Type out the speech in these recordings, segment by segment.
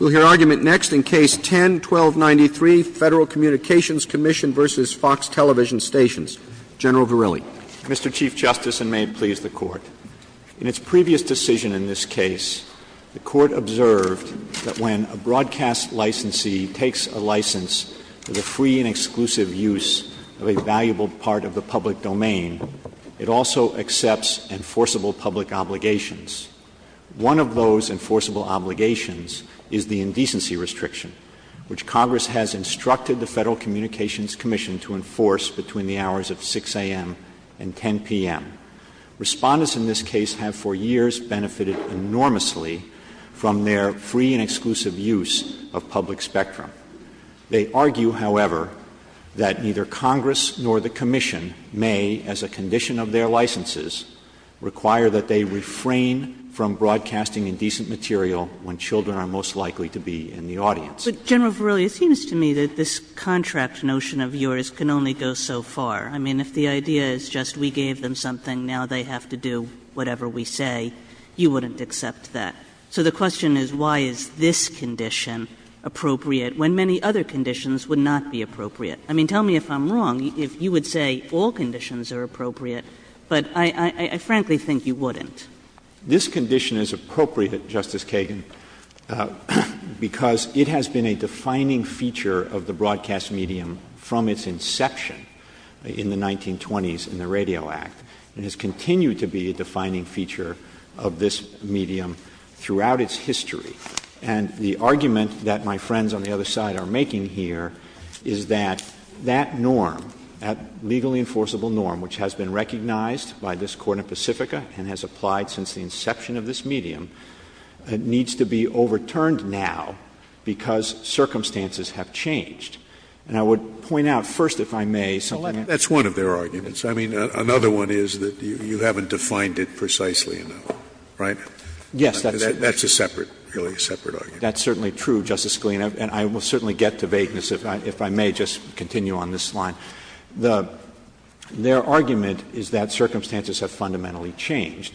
We'll hear argument next in Case 10-1293, Federal Communications Commission v. Fox Television Stations. General Verrilli. Mr. Chief Justice, and may it please the Court, in its previous decision in this case, the Court observed that when a broadcast licensee takes a license for the free and exclusive use of a valuable part of the public domain, it also accepts enforceable public obligations. One of those enforceable obligations is the indecency restriction, which Congress has instructed the Federal Communications Commission to enforce between the hours of 6 a.m. and 10 p.m. Respondents in this case have for years benefited enormously from their free and exclusive use of public spectrum. They argue, however, that neither Congress nor the Commission may, as a condition of their licenses, require that they refrain from broadcasting indecent material when children are most likely to be in the audience. But, General Verrilli, it seems to me that this contract notion of yours can only go so far. I mean, if the idea is just we gave them something, now they have to do whatever we say, you wouldn't accept that. So the question is, why is this condition appropriate when many other conditions would not be appropriate? I mean, tell me if I'm wrong or appropriate, but I frankly think you wouldn't. This condition is appropriate, Justice Kagan, because it has been a defining feature of the broadcast medium from its inception in the 1920s in the Radio Act and has continued to be a defining feature of this medium throughout its history. And the argument that my friends on the other side are making here is that that norm, that legally enforceable norm, which has been recognized by this Court in Pacifica and has applied since the inception of this medium, needs to be overturned now because circumstances have changed. And I would point out first, if I may, something else. Scalia. Well, that's one of their arguments. I mean, another one is that you haven't defined it precisely enough, right? Verrilli, Yes. Scalia. That's a separate, really a separate argument. Verrilli, That's certainly true, Justice Scalia, and I will certainly get to vagueness if I may just continue on this line. Their argument is that circumstances have fundamentally changed.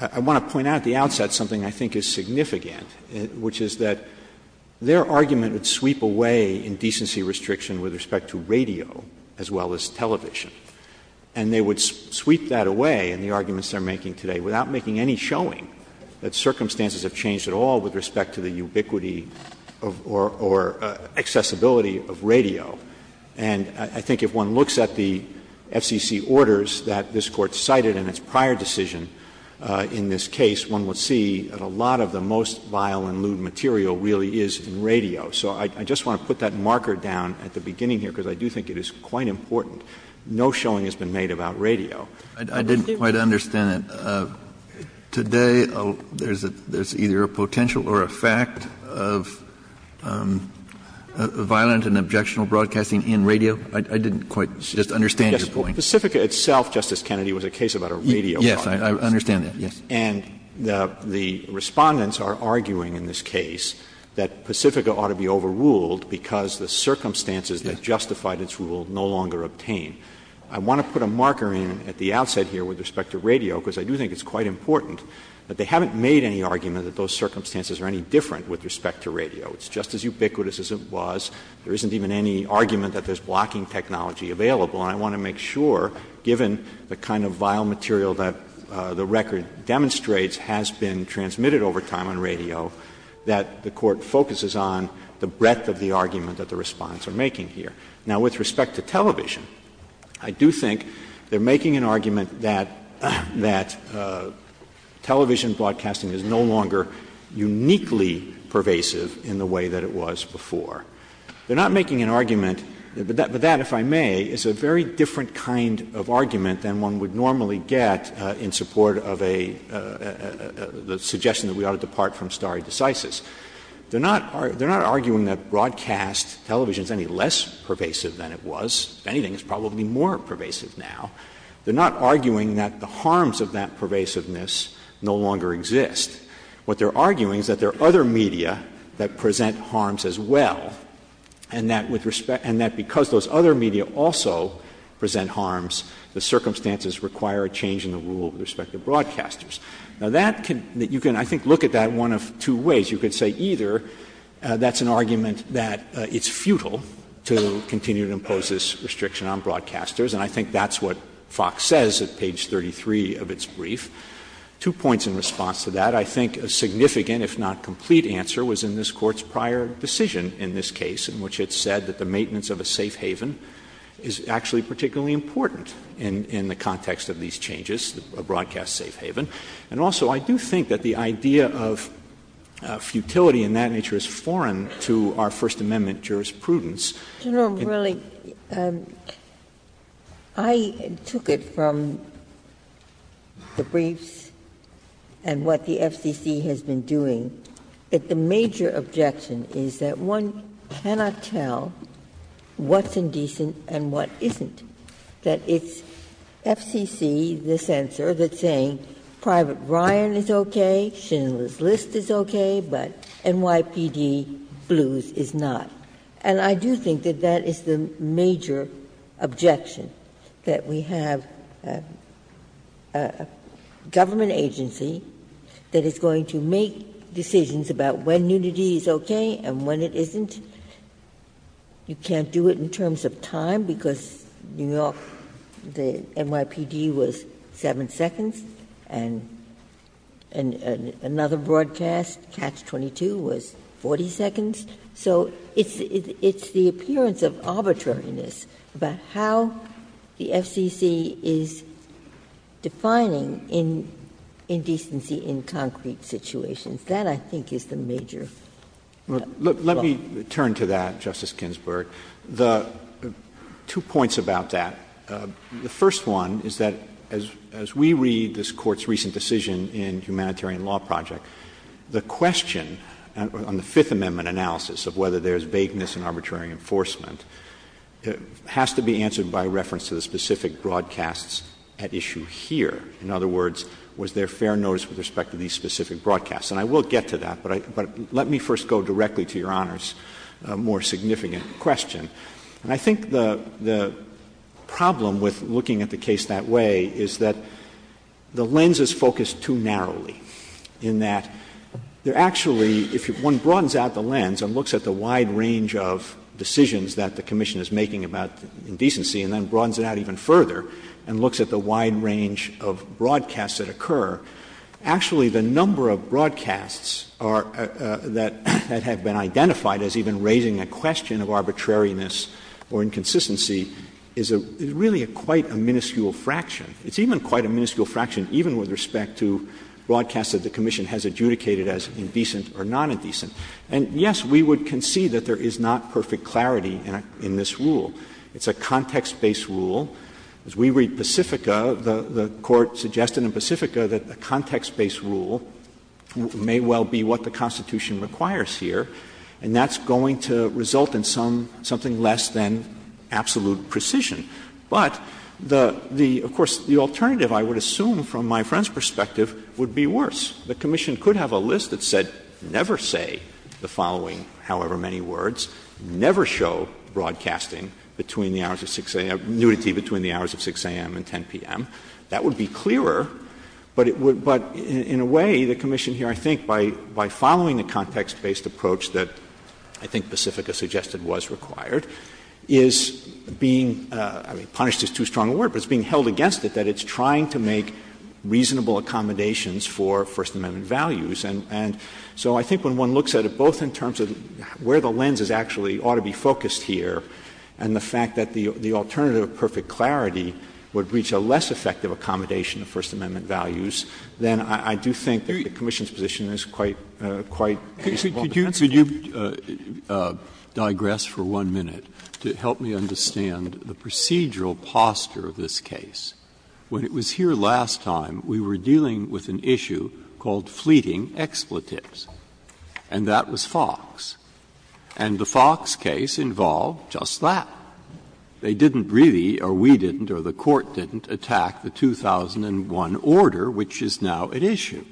I want to point out at the outset something I think is significant, which is that their argument would sweep away indecency restriction with respect to radio as well as television, and they would sweep that away in the arguments they are making today without making any showing that circumstances have changed at all with respect to the ubiquity or accessibility of radio. And I think if one looks at the FCC orders that this Court cited in its prior decision in this case, one would see that a lot of the most vile and lewd material really is in radio. So I just want to put that marker down at the beginning here, because I do think it is quite important. No showing has been made about radio. Kennedy, I didn't quite understand it. Today, there's either a potential or a fact of violent and objectionable broadcasting in radio? I didn't quite just understand Verrilli, Yes, but Pacifica itself, Justice Kennedy, was a case about a radio broadcast. Kennedy, Yes, I understand that, yes. Verrilli, And the Respondents are arguing in this case that Pacifica ought to be overruled because the circumstances that justified its rule no longer obtained. I want to put a marker in at the outset here with respect to radio, because I do think it's quite important that they haven't made any argument that those circumstances are any different with respect to radio. It's just as ubiquitous as it was. There isn't even any argument that there's blocking technology available. And I want to make sure, given the kind of vile material that the record demonstrates has been transmitted over time on radio, that the Court focuses on the breadth of the argument that the Respondents are making here. Now, with respect to television, I do think they're making an argument that television broadcasting is no longer uniquely pervasive in the way that it was before. They're not making an argument, but that, if I may, is a very different kind of argument than one would normally get in support of a suggestion that we ought to depart from stare decisis. They're not arguing that broadcast television is any less pervasive than it was. If anything, it's probably more pervasive now. They're not arguing that the harms of that pervasiveness no longer exist. What they're arguing is that there are other media that present harms as well, and that with respect — and that because those other media also present harms, the circumstances require a change in the rule with respect to broadcasters. Now, that can — you can, I think, look at that one of two ways. You can say either that's an argument that it's futile to continue to impose this restriction on broadcasters, and I think that's what Fox says at page 33 of its brief. Two points in response to that. I think a significant, if not complete, answer was in this Court's prior decision in this case in which it said that the maintenance of a safe haven is actually particularly important in the context of these changes, a broadcast safe haven. And also, I do think that the idea of futility in that nature is foreign to our First Amendment jurisprudence. Ginsburg, really, I took it from the briefs and what the FCC has been doing that the major objection is that one cannot tell what's indecent and what isn't. That it's FCC, the censor, that's saying Private Ryan is okay, Schindler's List is okay, but NYPD Blues is not. And I do think that that is the major objection, that we have a government agency that is going to make decisions about when nudity is okay and when it isn't. You can't do it in terms of time, because New York, the NYPD was 7 seconds, and another broadcast, Catch-22, was 40 seconds. So it's the appearance of arbitrariness about how the FCC is defining indecency in concrete situations. That, I think, is the major problem. Look, let me turn to that, Justice Ginsburg. The two points about that, the first one is that as we read this Court's recent decision in the Humanitarian Law Project, the question on the Fifth Amendment analysis of whether there is vagueness in arbitrary enforcement has to be answered by reference to the specific broadcasts at issue here. In other words, was there fair notice with respect to these specific broadcasts? And I will get to that, but let me first go directly to Your Honor's more significant question. And I think the problem with looking at the case that way is that the lens is focused too narrowly, in that there actually, if one broadens out the lens and looks at the wide range of decisions that the Commission is making about indecency and then broadens it out even further and looks at the wide range of broadcasts that occur, actually the number of broadcasts that have been identified as even raising a question of arbitrariness or inconsistency is really quite a minuscule fraction. It's even quite a minuscule fraction even with respect to broadcasts that the Commission has adjudicated as indecent or nonindecent. And, yes, we would concede that there is not perfect clarity in this rule. It's a context-based rule. As we read Pacifica, the Court suggested in Pacifica that a context-based rule may well be what the Constitution requires here, and that's going to result in something less than absolute precision. But the — of course, the alternative, I would assume from my friend's perspective, would be worse. The Commission could have a list that said never say the following however many words, never show broadcasting between the hours of 6 a.m. — nudity between the hours of 6 a.m. and 10 p.m. That would be clearer, but it would — but in a way, the Commission here, I think, by following the context-based approach that I think Pacifica suggested was required, is being — I mean, punished is too strong a word, but it's being held against it that it's trying to make reasonable accommodations for First Amendment values. And so I think when one looks at it both in terms of where the lens is actually ought to be focused here, and the fact that the alternative of perfect clarity would reach a less effective accommodation of First Amendment values, then I do think the Commission's position is quite — quite reasonable. Breyer. Could you digress for one minute to help me understand the procedural posture of this case? When it was here last time, we were dealing with an issue called fleeting expletives. And that was Fox. And the Fox case involved just that. They didn't really, or we didn't, or the Court didn't, attack the 2001 order, which is now at issue.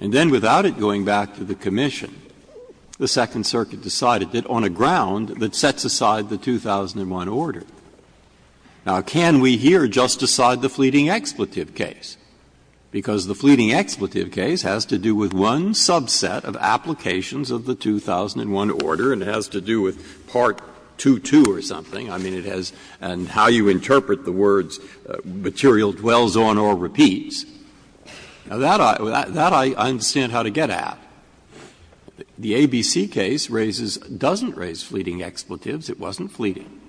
And then without it going back to the Commission, the Second Circuit decided it on a ground that sets aside the 2001 order. Now, can we here just decide the fleeting expletive case? Because the fleeting expletive case has to do with one subset of applications of the 2001 order, and it has to do with Part 2.2 or something. I mean, it has — and how you interpret the words, material dwells on or repeats. Now, that I — that I understand how to get at. The ABC case raises — doesn't raise fleeting expletives. It wasn't fleeting.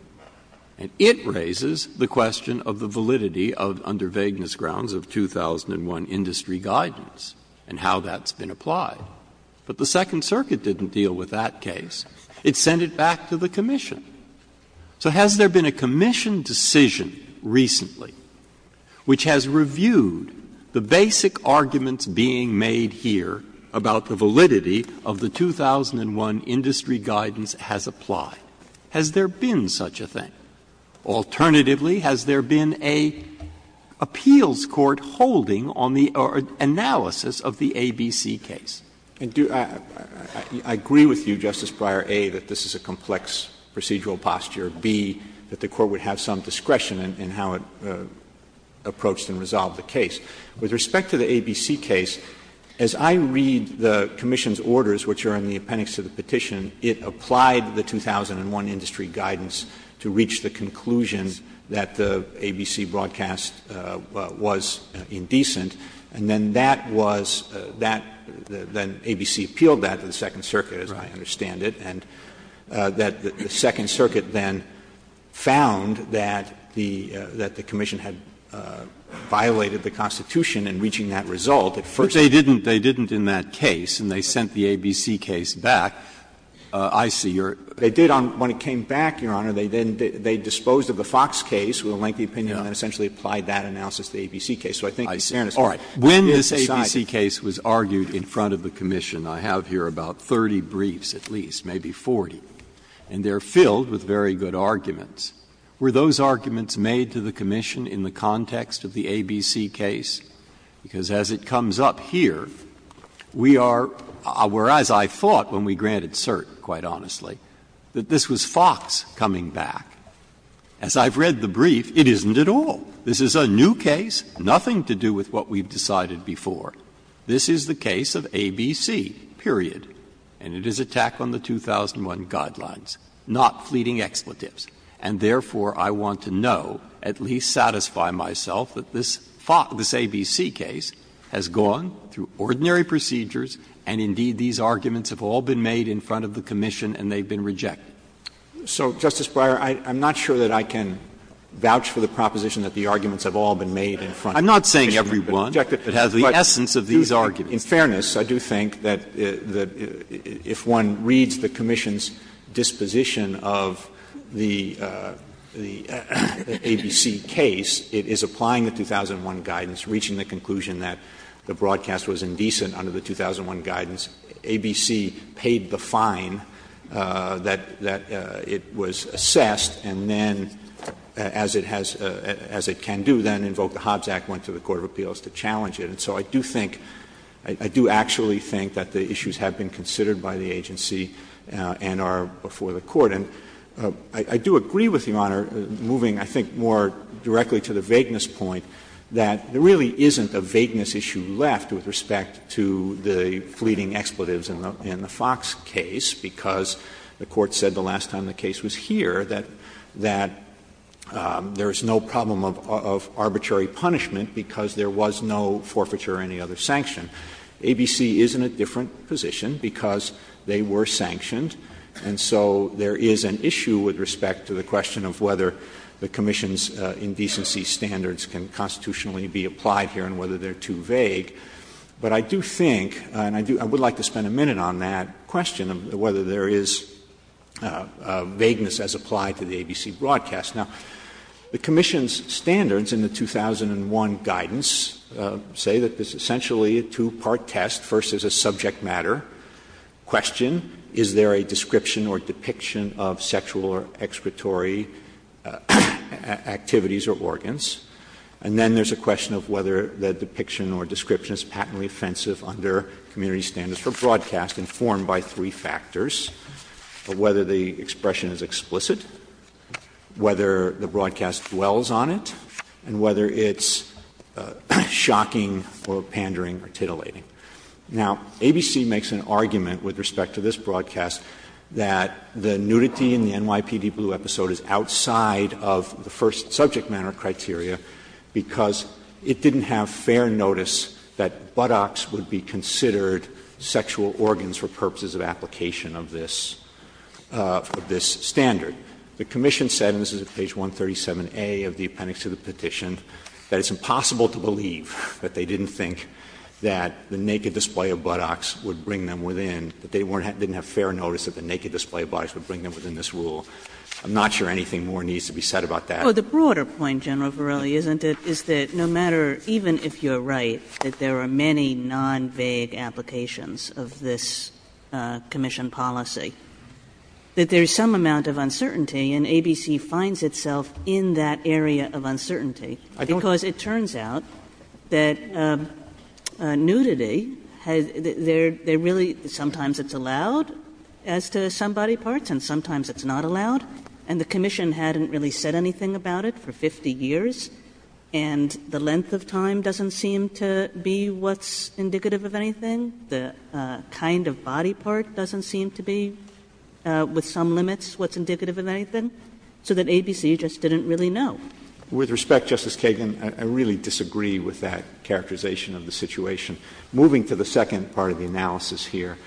And it raises the question of the validity of, under vagueness grounds, of 2001 industry guidance and how that's been applied. But the Second Circuit didn't deal with that case. It sent it back to the Commission. So has there been a Commission decision recently which has reviewed the basic arguments being made here about the validity of the 2001 industry guidance has applied? Has there been such a thing? Alternatively, has there been an appeals court holding on the analysis of the ABC case? Verrilli, I agree with you, Justice Breyer, A, that this is a complex procedural posture, B, that the Court would have some discretion in how it approached and resolved the case. With respect to the ABC case, as I read the Commission's orders, which are in the appendix to the petition, it applied the 2001 industry guidance to reach the conclusion that the ABC broadcast was indecent. And then that was — that — then ABC appealed that to the Second Circuit, as I understand it, and that the Second Circuit then found that the — that the Commission had violated the Constitution in reaching that result at first. Breyer, they didn't — they didn't in that case, and they sent the ABC case back. I see your — They did on — when it came back, Your Honor, they then — they disposed of the Fox case with a lengthy opinion and essentially applied that analysis to the ABC case. So I think fairness — all right. When this ABC case was argued in front of the Commission, I have here about 30 briefs at least, maybe 40, and they are filled with very good arguments. Were those arguments made to the Commission in the context of the ABC case? Because as it comes up here, we are — whereas I thought when we granted cert, quite honestly, that this was Fox coming back, as I've read the brief, it isn't at all. This is a new case, nothing to do with what we've decided before. This is the case of ABC, period. And it is a tack on the 2001 guidelines, not fleeting expletives. And therefore, I want to know, at least satisfy myself, that this ABC case has gone through ordinary procedures, and indeed, these arguments have all been made in front of the Commission and they've been rejected. So, Justice Breyer, I'm not sure that I can vouch for the proposition that the arguments have all been made in front of the Commission and they've been rejected. I'm not saying every one that has the essence of these arguments. In fairness, I do think that if one reads the Commission's disposition of the ABC case, it is applying the 2001 guidance, reaching the conclusion that the broadcast was indecent under the 2001 guidance. ABC paid the fine that it was assessed, and then, as it has — as it can do, then invoked the Hobbs Act, went to the court of appeals to challenge it. So I do think — I do actually think that the issues have been considered by the agency and are before the Court. And I do agree with Your Honor, moving, I think, more directly to the vagueness point, that there really isn't a vagueness issue left with respect to the fleeting expletives in the Fox case, because the Court said the last time the case was here that — that there is no problem of arbitrary punishment because there was no forfeiture or any other sanction. ABC is in a different position because they were sanctioned, and so there is an issue with respect to the question of whether the Commission's indecency standards can constitutionally be applied here and whether they are too vague. But I do think, and I do — I would like to spend a minute on that question of whether there is vagueness as applied to the ABC broadcast. Now, the Commission's standards in the 2001 guidance say that this is essentially a two-part test. First, there is a subject matter question, is there a description or depiction of sexual or excretory activities or organs? And then there is a question of whether the depiction or description is patently offensive under community standards for broadcast, informed by three factors, whether the expression is explicit, whether the broadcast dwells on it, and whether it's shocking or pandering or titillating. Now, ABC makes an argument with respect to this broadcast that the nudity in the NYPD Blue episode is outside of the first subject matter criteria because it didn't have fair notice that buttocks would be considered sexual organs for purposes of application of this — of this standard. The Commission said, and this is at page 137a of the appendix to the petition, that it's impossible to believe that they didn't think that the naked display of buttocks would bring them within, that they weren't — didn't have fair notice that the naked display of buttocks would bring them within this rule. I'm not sure anything more needs to be said about that. Kagan. Oh, the broader point, General Verrilli, isn't it, is that no matter — even if you are right that there are many non-vague applications of this Commission policy, that there is some amount of uncertainty, and ABC finds itself in that area of uncertainty. I don't — Because it turns out that nudity has — they're — they're really — sometimes it's allowed as to some body parts and sometimes it's not allowed. And the Commission hadn't really said anything about it for 50 years. And the length of time doesn't seem to be what's indicative of anything. The kind of body part doesn't seem to be, with some limits, what's indicative of anything. So that ABC just didn't really know. With respect, Justice Kagan, I really disagree with that characterization of the situation. Moving to the second part of the analysis here,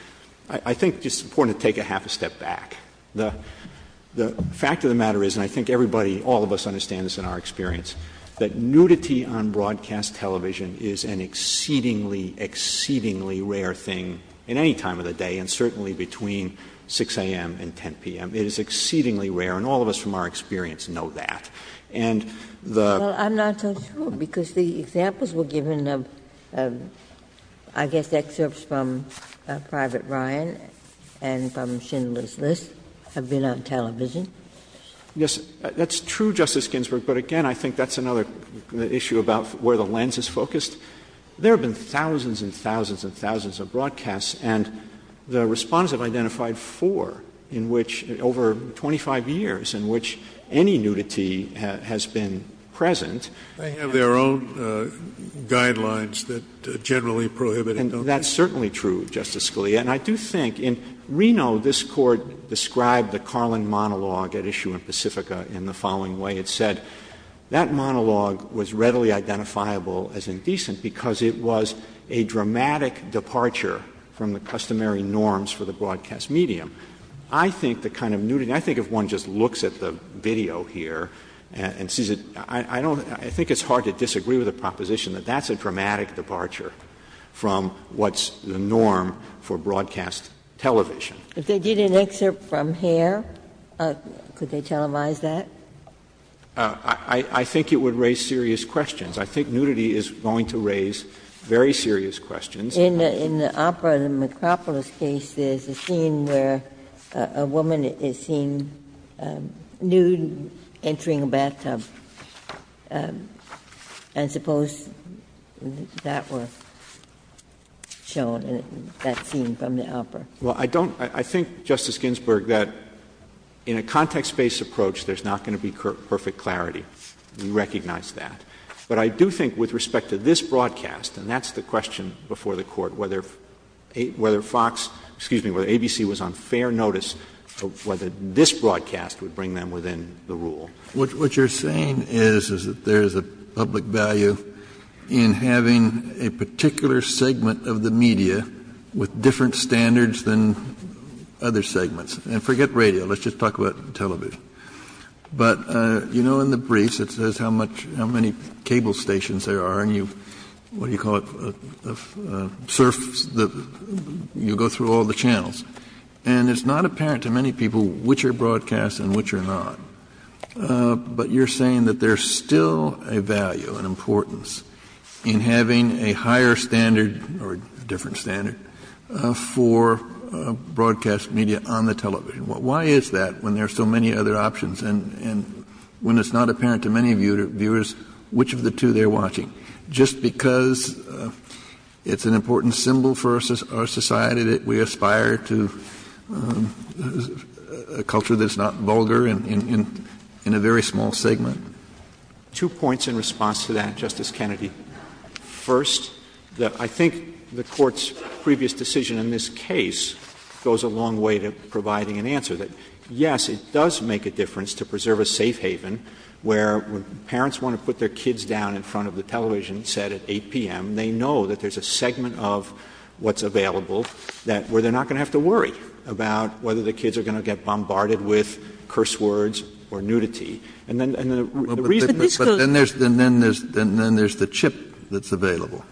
I think it's important to take a half a step back. The fact of the matter is, and I think everybody, all of us understand this in our experience, that nudity on broadcast television is an exceedingly, exceedingly rare thing in any time of the day, and certainly between 6 a.m. and 10 p.m. It is exceedingly rare, and all of us from our experience know that. And the — Well, I'm not so sure, because the examples were given of, I guess, excerpts from Private Ryan and from Schindler's List have been on television. Yes, that's true, Justice Ginsburg, but, again, I think that's another issue about where the lens is focused. There have been thousands and thousands and thousands of broadcasts, and the Respondents have identified four in which — over 25 years in which any nudity has been present. They have their own guidelines that generally prohibit it, don't they? And that's certainly true, Justice Scalia. And I do think in Reno, this Court described the Carlin monologue at issue in Pacifica in the following way. It said, that monologue was readily identifiable as indecent because it was a dramatic departure from the customary norms for the broadcast medium. I think the kind of nudity — I think if one just looks at the video here and sees it, I don't — I think it's hard to disagree with the proposition that that's a dramatic departure from what's the norm for broadcast television. Ginsburg. If they did an excerpt from Hair, could they televise that? Verrilli, I think it would raise serious questions. I think nudity is going to raise very serious questions. Ginsburg. In the opera, the Micropolis case, there's a scene where a woman is seen nude entering a bathtub, and I suppose that was shown in that scene from the opera. Well, I don't — I think, Justice Ginsburg, that in a context-based approach, there's not going to be perfect clarity. We recognize that. But I do think with respect to this broadcast, and that's the question before the Court, whether FOX — excuse me, whether ABC was on fair notice of whether this broadcast would bring them within the rule. What you're saying is, is that there is a public value in having a particular segment of the media with different standards than other segments. And forget radio. Let's just talk about television. But you know in the briefs it says how much — how many cable stations there are. And you — what do you call it — surfs the — you go through all the channels. And it's not apparent to many people which are broadcast and which are not. But you're saying that there's still a value, an importance, in having a higher standard or a different standard for broadcast media on the television. Why is that when there are so many other options? And when it's not apparent to many viewers which of the two they're watching? Just because it's an important symbol for our society that we aspire to a culture that's not vulgar in a very small segment. Verrilli, Two points in response to that, Justice Kennedy. First, I think the Court's previous decision in this case goes a long way to providing an answer that, yes, it does make a difference to preserve a safe haven where parents want to put their kids down in front of the television set at 8 p.m., they know that there's a segment of what's available that — where they're not going to have to worry about whether the kids are going to get bombarded with curse words or nudity. And then — But this goes — And then there's the chip that's available.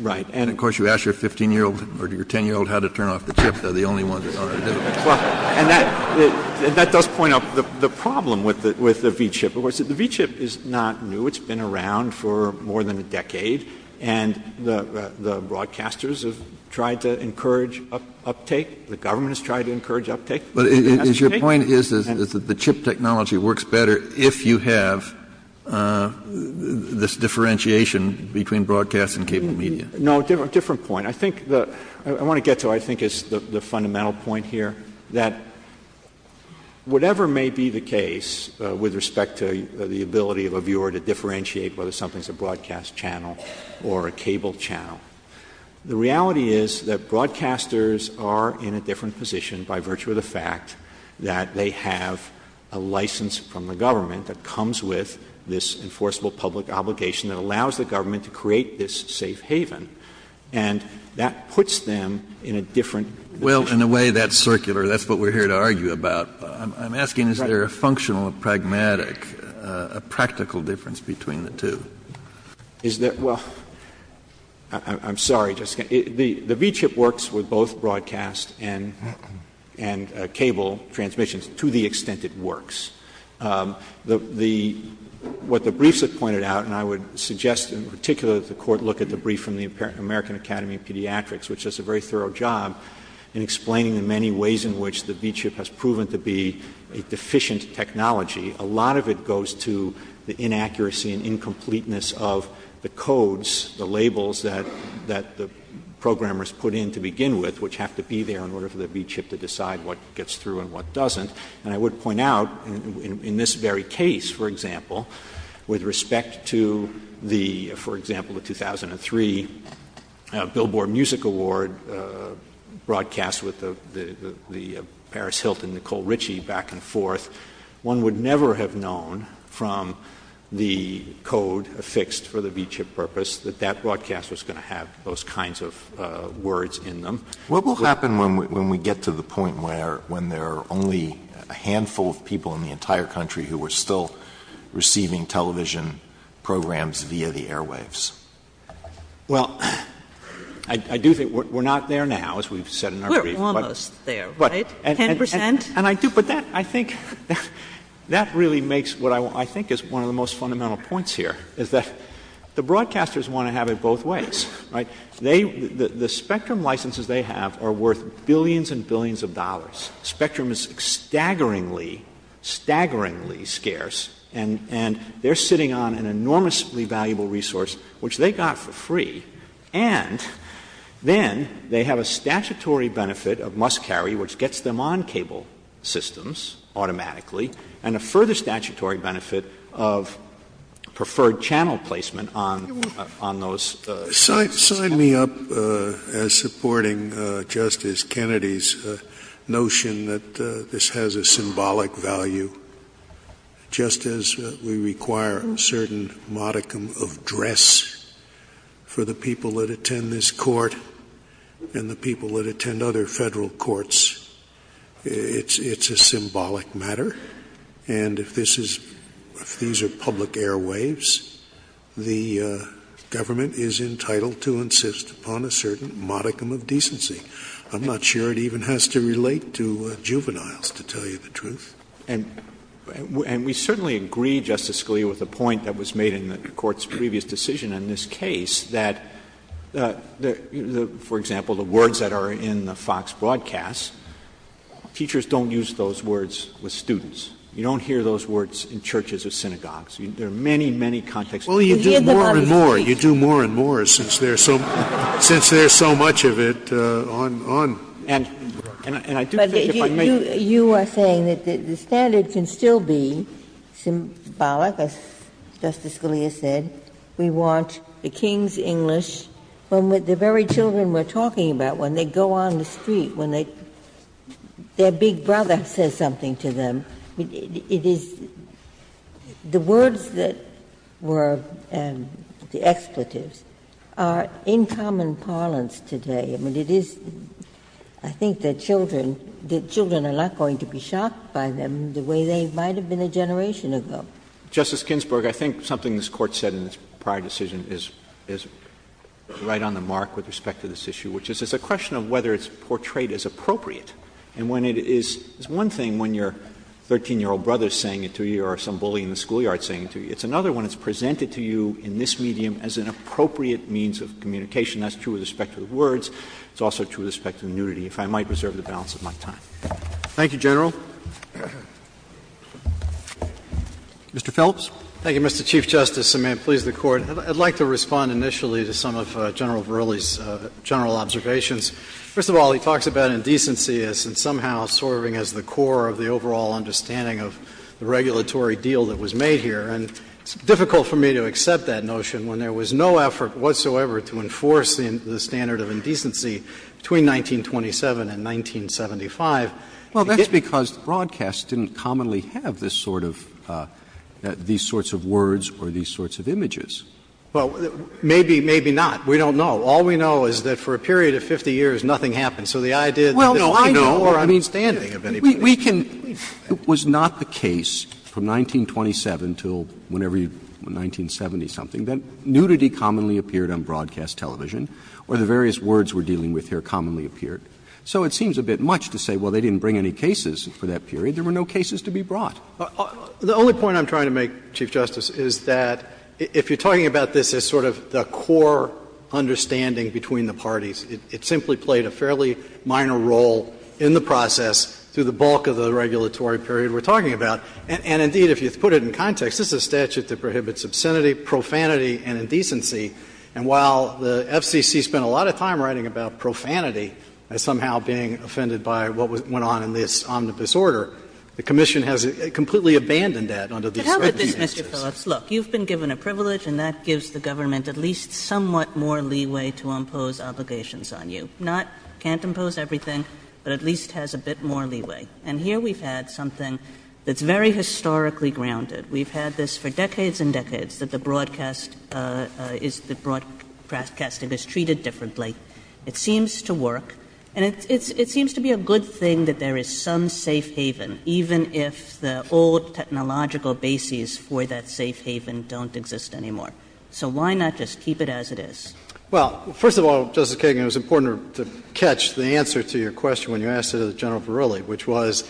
Right. And, of course, you ask your 15-year-old or your 10-year-old how to turn off the chip, they're the only ones that know how to do it. And that does point out the problem with the V-chip. Of course, the V-chip is not new. It's been around for more than a decade. And the broadcasters have tried to encourage uptake. The government has tried to encourage uptake. But it has to take — But your point is that the chip technology works better if you have this differentiation between broadcast and cable media. No. A different point. I think the — I want to get to what I think is the fundamental point here, that whatever may be the case with respect to the ability of a viewer to differentiate whether something is a broadcast channel or a cable channel, the reality is that broadcasters are in a different position by virtue of the fact that they have a license from the government that comes with this enforceable public obligation that allows the government to create this safe haven. And that puts them in a different — Well, in a way, that's circular. That's what we're here to argue about. I'm asking, is there a functional, a pragmatic, a practical difference between the two? Is there — well, I'm sorry, Justice Kennedy. The V-chip works with both broadcast and cable transmissions to the extent it works. The — what the briefs have pointed out, and I would suggest in particular that the Court look at the brief from the American Academy of Pediatrics, which does a very thorough job in explaining the many ways in which the V-chip has proven to be a deficient technology, a lot of it goes to the inaccuracy and incompleteness of the codes, the programmers put in to begin with, which have to be there in order for the V-chip to decide what gets through and what doesn't. And I would point out, in this very case, for example, with respect to the — for example, the 2003 Billboard Music Award broadcast with the — the Paris Hilton, Nicole Ritchie back and forth, one would never have known from the code affixed for the V-chip purpose that that broadcast was going to have those kinds of words in them. What will happen when we get to the point where — when there are only a handful of people in the entire country who are still receiving television programs via the airwaves? Well, I do think — we're not there now, as we've said in our brief, but — We're almost there, right, 10 percent? And I do — but that, I think — that really makes what I think is one of the most fundamental points here, is that the broadcasters want to have it both ways, right? They — the Spectrum licenses they have are worth billions and billions of dollars. Spectrum is staggeringly, staggeringly scarce, and — and they're sitting on an enormously valuable resource, which they got for free, and then they have a statutory benefit of must-carry, which gets them on cable systems automatically, and a further statutory benefit of preferred channel placement on — on those systems. Sign me up as supporting Justice Kennedy's notion that this has a symbolic value, just as we require a certain modicum of dress for the people that attend this Court and the people that attend other Federal courts. It's — it's a symbolic matter, and if this is — if these are public airwaves, the government is entitled to insist upon a certain modicum of decency. I'm not sure it even has to relate to juveniles, to tell you the truth. And we certainly agree, Justice Scalia, with the point that was made in the Court's previous decision on this case, that, for example, the words that are in the Fox broadcasts, teachers don't use those words with students. You don't hear those words in churches or synagogues. There are many, many contexts. You hear them on the street. Scalia, you do more and more, since there's so — since there's so much of it on — on the network. And I do think if I may — But you are saying that the standard can still be symbolic, as Justice Scalia said. We want the King's English. When the very children we're talking about, when they go on the street, when they go on the street, their big brother says something to them. It is — the words that were the expletives are in common parlance today. I mean, it is — I think that children — that children are not going to be shocked by them the way they might have been a generation ago. Justice Ginsburg, I think something this Court said in its prior decision is — is right on the mark with respect to this issue, which is it's a question of whether it's appropriate. And when it is — it's one thing when your 13-year-old brother is saying it to you or some bully in the schoolyard is saying it to you. It's another when it's presented to you in this medium as an appropriate means of communication. That's true with respect to the words. It's also true with respect to the nudity, if I might reserve the balance of my time. Thank you, General. Mr. Phillips. Thank you, Mr. Chief Justice, and may it please the Court. I'd like to respond initially to some of General Verrilli's general observations. First of all, he talks about indecency as somehow serving as the core of the overall understanding of the regulatory deal that was made here. And it's difficult for me to accept that notion when there was no effort whatsoever to enforce the standard of indecency between 1927 and 1975. Well, that's because broadcasts didn't commonly have this sort of — these sorts of words or these sorts of images. Well, maybe, maybe not. We don't know. All we know is that for a period of 50 years, nothing happened. So the idea that there was no more understanding of anything. We can — it was not the case from 1927 until whenever you — 1970-something that nudity commonly appeared on broadcast television or the various words we're dealing with here commonly appeared. So it seems a bit much to say, well, they didn't bring any cases for that period. There were no cases to be brought. The only point I'm trying to make, Chief Justice, is that if you're talking about this as sort of the core understanding between the parties, it simply played a fairly minor role in the process through the bulk of the regulatory period we're talking about. And indeed, if you put it in context, this is a statute that prohibits obscenity, profanity and indecency. And while the FCC spent a lot of time writing about profanity as somehow being offended by what went on in this omnibus order, the commission has completely abandoned that under these circumstances. Kagan. And, Chief Justice, Mr. Phillips, look, you've been given a privilege, and that gives the government at least somewhat more leeway to impose obligations on you. Not can't impose everything, but at least has a bit more leeway. And here we've had something that's very historically grounded. We've had this for decades and decades that the broadcast is the — broadcasting is treated differently. It seems to work. And it seems to be a good thing that there is some safe haven, even if the old technological bases for that safe haven don't exist anymore. So why not just keep it as it is? Well, first of all, Justice Kagan, it was important to catch the answer to your question when you asked it to General Verrilli, which was,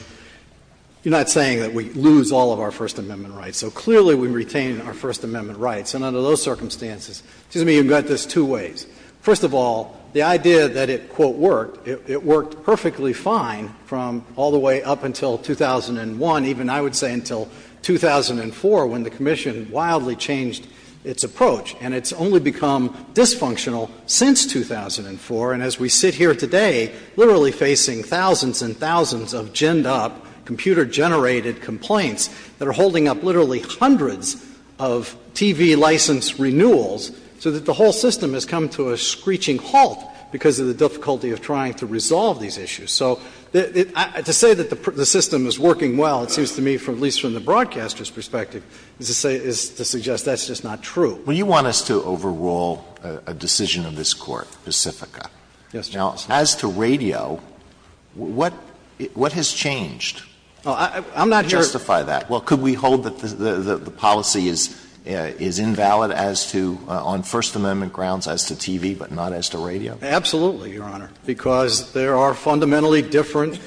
you're not saying that we lose all of our First Amendment rights. So clearly we retain our First Amendment rights. And under those circumstances — excuse me, you've got this two ways. First of all, the idea that it, quote, worked, it worked perfectly fine from all the way up until 2001, even I would say until 2004, when the Commission wildly changed its approach. And it's only become dysfunctional since 2004. And as we sit here today, literally facing thousands and thousands of ginned up, computer-generated complaints that are holding up literally hundreds of TV license renewals, so that the whole system has come to a screeching halt because of the difficulty of trying to resolve these issues. So to say that the system is working well, it seems to me, at least from the broadcaster's perspective, is to say — is to suggest that's just not true. Alito, when you want us to overrule a decision of this Court, Pacifica. Yes, Justice. Now, as to radio, what has changed? I'm not here to justify that. Well, could we hold that the policy is invalid as to — on First Amendment Absolutely, Your Honor. Because there are fundamentally different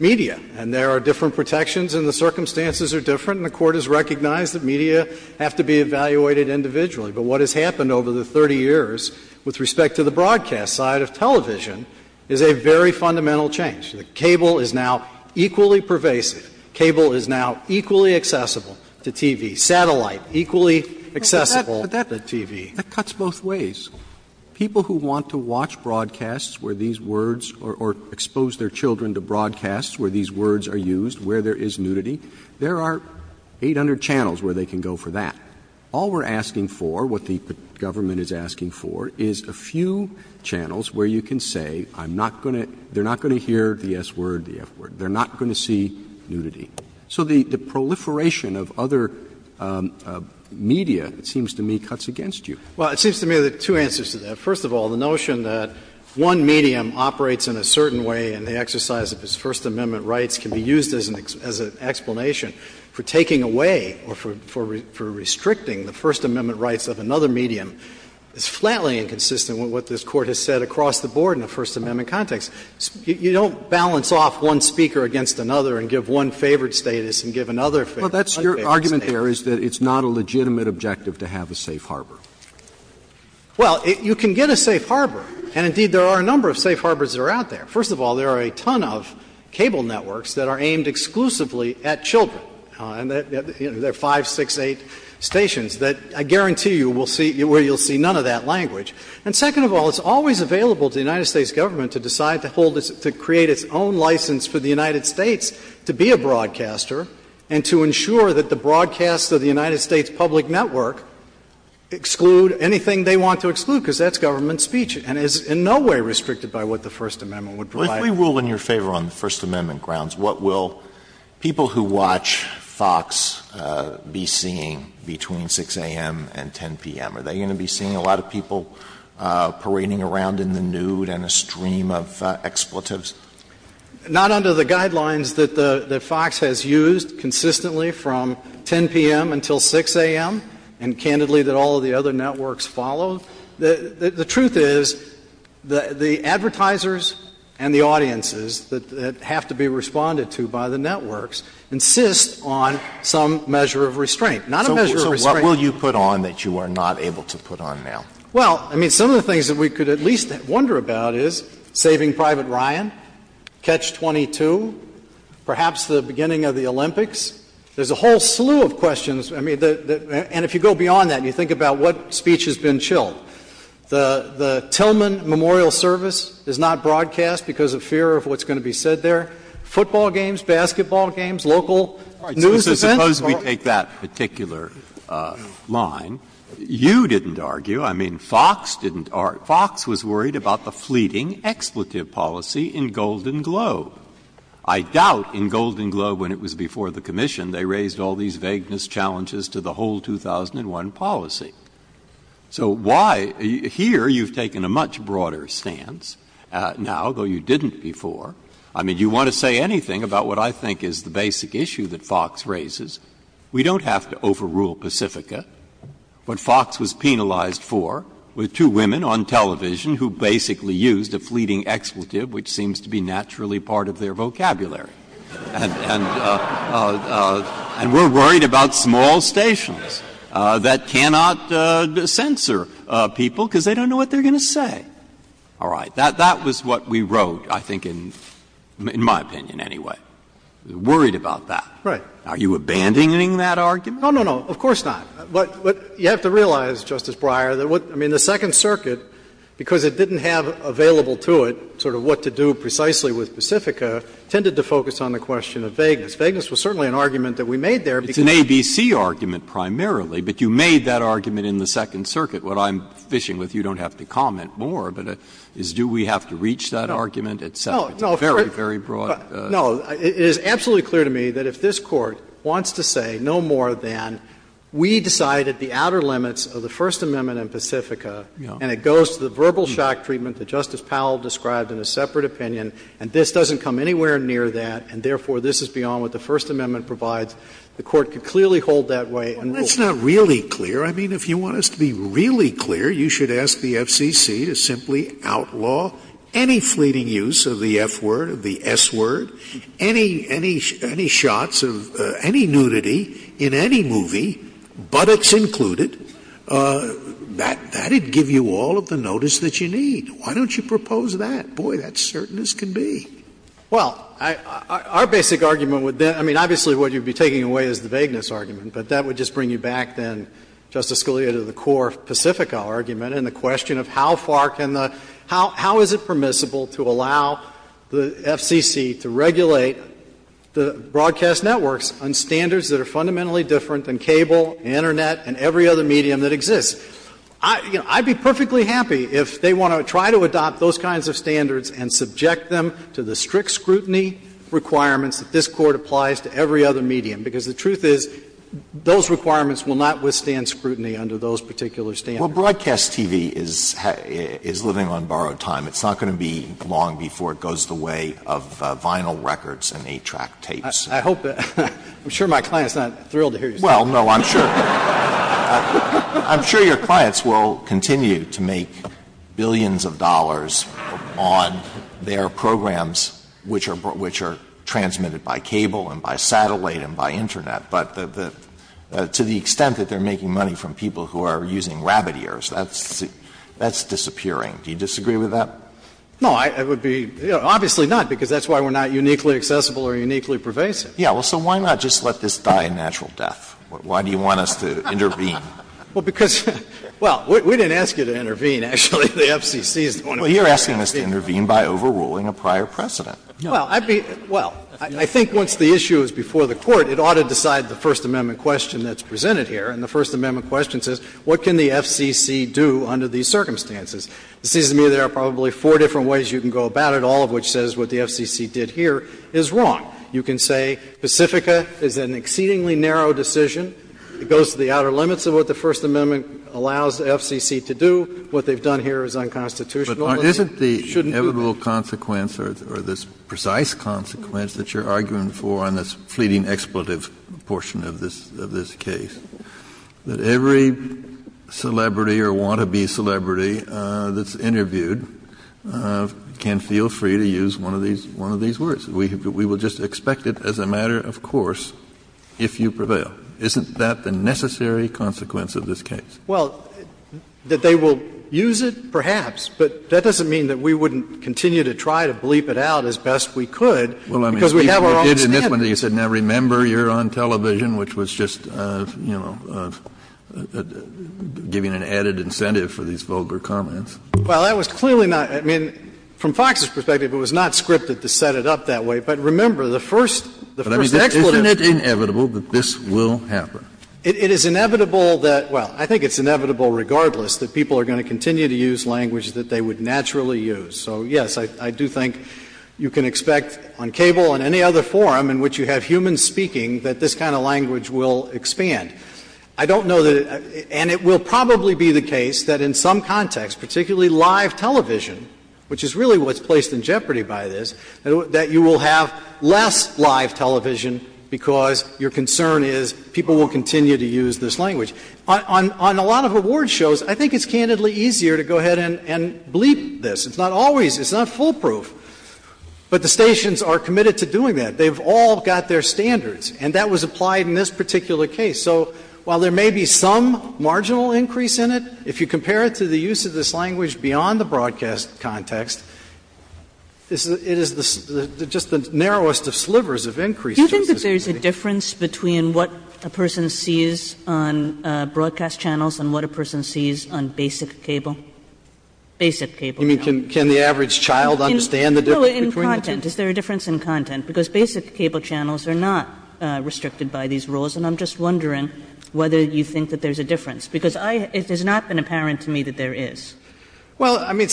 media, and there are different protections, and the circumstances are different, and the Court has recognized that media have to be evaluated individually. But what has happened over the 30 years with respect to the broadcast side of television is a very fundamental change. The cable is now equally pervasive. Cable is now equally accessible to TV. Satellite, equally accessible to TV. But that cuts both ways. People who want to watch broadcasts where these words — or expose their children to broadcasts where these words are used, where there is nudity, there are 800 channels where they can go for that. All we're asking for, what the government is asking for, is a few channels where you can say, I'm not going to — they're not going to hear the S word, the F word. They're not going to see nudity. So the proliferation of other media, it seems to me, cuts against you. Well, it seems to me there are two answers to that. First of all, the notion that one medium operates in a certain way and the exercise of its First Amendment rights can be used as an explanation for taking away or for restricting the First Amendment rights of another medium is flatly inconsistent with what this Court has said across the board in the First Amendment context. You don't balance off one speaker against another and give one favored status and give another favored status. Well, that's your argument there is that it's not a legitimate objective to have a safe harbor. Well, you can get a safe harbor, and indeed there are a number of safe harbors that are out there. First of all, there are a ton of cable networks that are aimed exclusively at children. There are five, six, eight stations that I guarantee you will see — where you'll see none of that language. And second of all, it's always available to the United States government to decide to hold its — to create its own license for the United States to be a broadcaster and to ensure that the broadcast of the United States public network, excuse me, can exclude anything they want to exclude, because that's government speech and is in no way restricted by what the First Amendment would provide. If we rule in your favor on the First Amendment grounds, what will people who watch FOX be seeing between 6 a.m. and 10 p.m.? Are they going to be seeing a lot of people parading around in the nude and a stream of expletives? Not under the guidelines that FOX has used consistently from 10 p.m. until 6 a.m. And, candidly, that all of the other networks follow. The truth is, the advertisers and the audiences that have to be responded to by the networks insist on some measure of restraint, not a measure of restraint. So what will you put on that you are not able to put on now? Well, I mean, some of the things that we could at least wonder about is Saving Private Ryan, Catch-22, perhaps the beginning of the Olympics. There's a whole slew of questions. I mean, and if you go beyond that and you think about what speech has been chilled, the Tillman memorial service is not broadcast because of fear of what's going to be said there. Football games, basketball games, local news events. So suppose we take that particular line. You didn't argue. I mean, FOX didn't argue. FOX was worried about the fleeting expletive policy in Golden Globe. I doubt in Golden Globe when it was before the commission they raised all these vagueness challenges to the whole 2001 policy. So why — here you've taken a much broader stance now, though you didn't before. I mean, you want to say anything about what I think is the basic issue that FOX raises. We don't have to overrule Pacifica. What FOX was penalized for were two women on television who basically used a fleeting expletive, which seems to be naturally part of their vocabulary. And we're worried about small stations that cannot censor people because they don't know what they're going to say. All right. That was what we wrote, I think, in my opinion, anyway. Worried about that. Right. Are you abandoning that argument? No, no, no. Of course not. But you have to realize, Justice Breyer, that what — I mean, the Second Circuit, because it didn't have available to it sort of what to do precisely with Pacifica, tended to focus on the question of vagueness. Vagueness was certainly an argument that we made there because we had to do that. It's an ABC argument primarily, but you made that argument in the Second Circuit. What I'm fishing with you, you don't have to comment more, but is do we have to reach that argument, et cetera. It's a very, very broad question. No, it is absolutely clear to me that if this Court wants to say no more than we decided the outer limits of the First Amendment and Pacifica, and it goes to the verbal shock treatment that Justice Powell described in a separate opinion, and this doesn't come anywhere near that, and therefore this is beyond what the First Amendment provides, the Court could clearly hold that way and rule. Well, that's not really clear. I mean, if you want us to be really clear, you should ask the FCC to simply outlaw any fleeting use of the F-word, of the S-word, any shots of any nudity in any movie, buttocks included, that would give you all of the notice that you need. Why don't you propose that? Boy, that's certain as can be. Well, our basic argument would then be — I mean, obviously what you would be taking away is the vagueness argument, but that would just bring you back then, Justice Scalia, to the core of Pacifica argument and the question of how far can the — how is it permissible to allow the FCC to regulate the broadcast networks on standards that are fundamentally different than cable, Internet, and every other medium that exists? I'd be perfectly happy if they want to try to adopt those kinds of standards and subject them to the strict scrutiny requirements that this Court applies to every other medium, because the truth is those requirements will not withstand scrutiny under those particular standards. Well, broadcast TV is living on borrowed time. It's not going to be long before it goes the way of vinyl records and 8-track tapes. I hope that — I'm sure my client is not thrilled to hear you say that. Well, no, I'm sure — I'm sure your clients will continue to make billions of dollars on their programs which are — which are transmitted by cable and by satellite and by Internet, but to the extent that they're making money from people who are using rabbit ears, that's disappearing. Do you disagree with that? No, I would be — obviously not, because that's why we're not uniquely accessible or uniquely pervasive. Yeah. Well, so why not just let this die a natural death? Why do you want us to intervene? Well, because — well, we didn't ask you to intervene, actually. The FCC is the one who — Well, you're asking us to intervene by overruling a prior precedent. Well, I'd be — well, I think once the issue is before the Court, it ought to decide the First Amendment question that's presented here, and the First Amendment question says what can the FCC do under these circumstances. It seems to me there are probably four different ways you can go about it, all of which says what the FCC did here is wrong. You can say Pacifica is an exceedingly narrow decision. It goes to the outer limits of what the First Amendment allows the FCC to do. What they've done here is unconstitutional. But isn't the inevitable consequence or this precise consequence that you're arguing for on this fleeting expletive portion of this — of this case, that every celebrity or want-to-be celebrity that's interviewed can feel free to use one of these — one of these words? We will just expect it as a matter of course if you prevail. Isn't that the necessary consequence of this case? Well, that they will use it, perhaps, but that doesn't mean that we wouldn't continue to try to bleep it out as best we could, because we have our own standards. Well, I mean, you did in this one, you said, now, remember, you're on television, which was just, you know, giving an added incentive for these vulgar comments. Well, that was clearly not — I mean, from Fox's perspective, it was not scripted to set it up that way. But remember, the first — the first expletive. Isn't it inevitable that this will happen? It is inevitable that — well, I think it's inevitable regardless that people are going to continue to use language that they would naturally use. So, yes, I do think you can expect on cable and any other forum in which you have human speaking that this kind of language will expand. I don't know that — and it will probably be the case that in some context, particularly live television, which is really what's placed in jeopardy by this, that you will have less live television because your concern is people will continue to use this language. On a lot of award shows, I think it's candidly easier to go ahead and bleep this. It's not always — it's not foolproof, but the stations are committed to doing that. They've all got their standards. And that was applied in this particular case. So while there may be some marginal increase in it, if you compare it to the use of this language beyond the broadcast context, it is the — just the narrowest of slivers of increase just as it would be. Kagan. Kagan. Kagan. Kagan. Kagan. Kagan. Kagan. Kagan. Kagan. Kagan. Kagan. Kagan. Kagan. Kagan. Well the basic cable channels are not restricted by these rules, and I'm just wondering whether you think that there's a difference. Because it has not been apparent to me that there is. Well, I mean,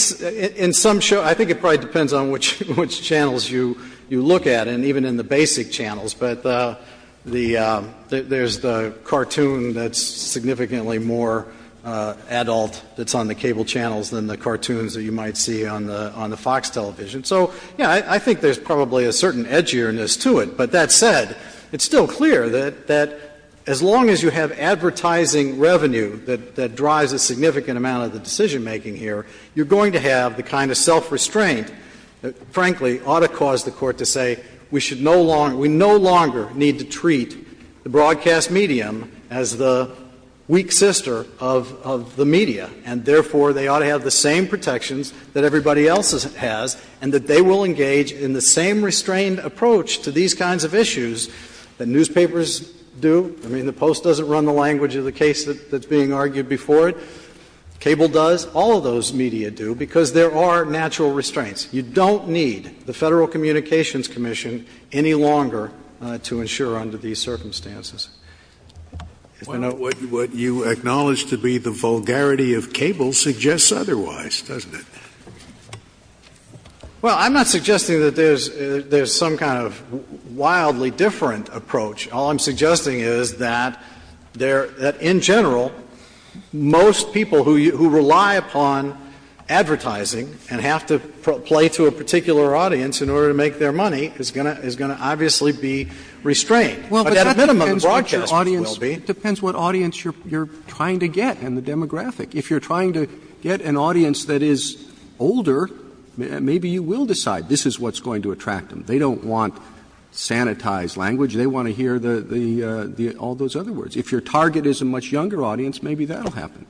in some — I think it probably depends on which channels you look at. And even in the basic channels. But the — there's the cartoon that's significantly more adult that's on the cable channels than the cartoons that you might see on the FOX television. So, yeah, I think there's probably a certain edgierness to it. But that said, it's still clear that as long as you have advertising revenue that drives a significant amount of the decision-making here, you're going to have the kind of self-restraint that, frankly, ought to cause the Court to say we should no longer — we no longer need to treat the broadcast medium as the weak sister of the media, and therefore they ought to have the same protections that everybody else has, and that they will engage in the same restrained approach to these kinds of issues that newspapers do. I mean, the Post doesn't run the language of the case that's being argued before it. Cable does. All of those media do, because there are natural restraints. You don't need the Federal Communications Commission any longer to ensure under these circumstances. Scalia. What you acknowledge to be the vulgarity of cable suggests otherwise, doesn't Well, I'm not suggesting that there's some kind of wildly different approach. All I'm suggesting is that there — that in general, most people who rely upon advertising and have to play to a particular audience in order to make their money is going to obviously be restrained. But at a minimum, broadcast will be. It depends what audience you're trying to get and the demographic. If you're trying to get an audience that is older, maybe you will decide this is what's going to attract them. They don't want sanitized language. They want to hear the — all those other words. If your target is a much younger audience, maybe that will happen.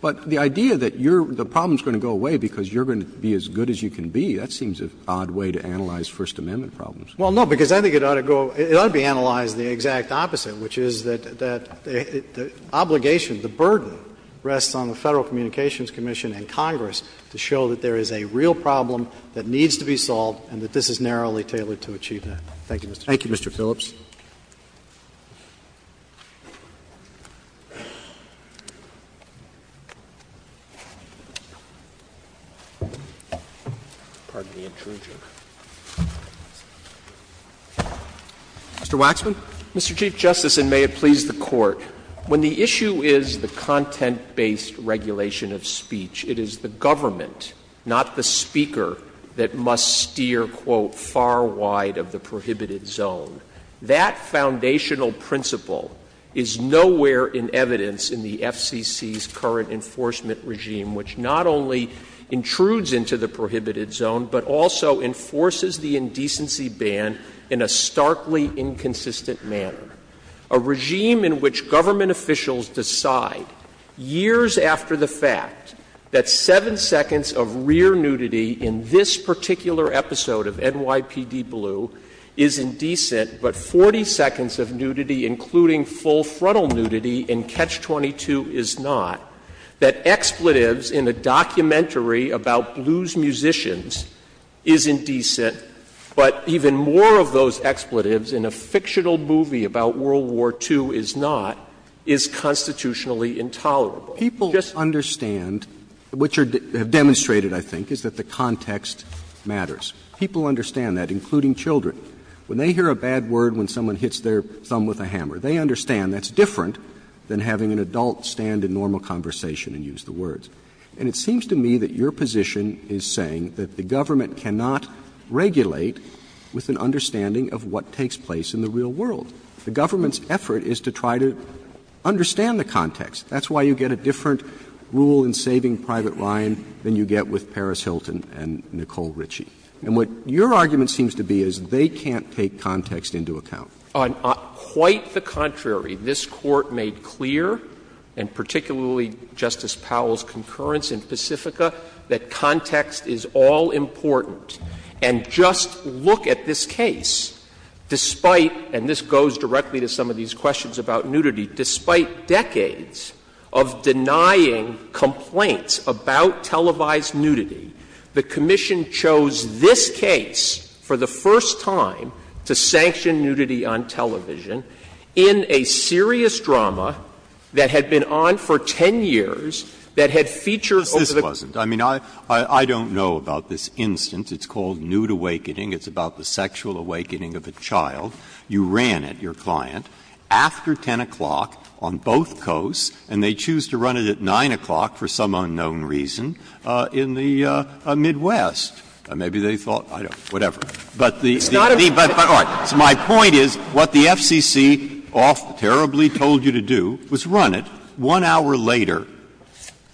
But the idea that you're — the problem is going to go away because you're going to be as good as you can be, that seems an odd way to analyze First Amendment problems. Well, no, because I think it ought to go — it ought to be analyzed the exact opposite, which is that the obligation, the burden rests on the Federal Communications Commission and Congress to show that there is a real problem that needs to be solved and that this is narrowly tailored to achieve that. Thank you, Mr. Chief. Thank you, Mr. Phillips. Mr. Waxman. Mr. Chief Justice, and may it please the Court, when the issue is the content-based regulation of speech, it is the government, not the speaker, that must steer, quote, of the prohibited zone. That foundational principle is nowhere in evidence in the FCC's current enforcement regime, which not only intrudes into the prohibited zone, but also enforces the indecency ban in a starkly inconsistent manner. A regime in which government officials decide, years after the fact, that seven seconds of rear nudity in this particular episode of NYPD Blue is indecent, but 40 seconds of nudity, including full-frontal nudity in Catch-22, is not, that expletives in a documentary about blues musicians is indecent, but even more of those expletives in a fictional movie about World War II is not, is constitutionally intolerable. So people understand, which are demonstrated, I think, is that the context matters. People understand that, including children. When they hear a bad word, when someone hits their thumb with a hammer, they understand that's different than having an adult stand in normal conversation and use the words. And it seems to me that your position is saying that the government cannot regulate with an understanding of what takes place in the real world. The government's effort is to try to understand the context. That's why you get a different rule in saving Private Ryan than you get with Paris Hilton and Nicole Ritchie. And what your argument seems to be is they can't take context into account. On quite the contrary, this Court made clear, and particularly Justice Powell's concurrence in Pacifica, that context is all-important. And just look at this case. Despite, and this goes directly to some of these questions about nudity, despite decades of denying complaints about televised nudity, the Commission chose this case for the first time to sanction nudity on television in a serious drama that had been on for 10 years, that had featured over the course of 10 years. Breyer. I mean, I don't know about this instance. It's called Nude Awakening. It's about the sexual awakening of a child. You ran it, your client, after 10 o'clock on both coasts, and they choose to run it at 9 o'clock for some unknown reason in the Midwest. Maybe they thought, I don't know, whatever. But the other part of it is my point is what the FCC off terribly told you to do was run it one hour later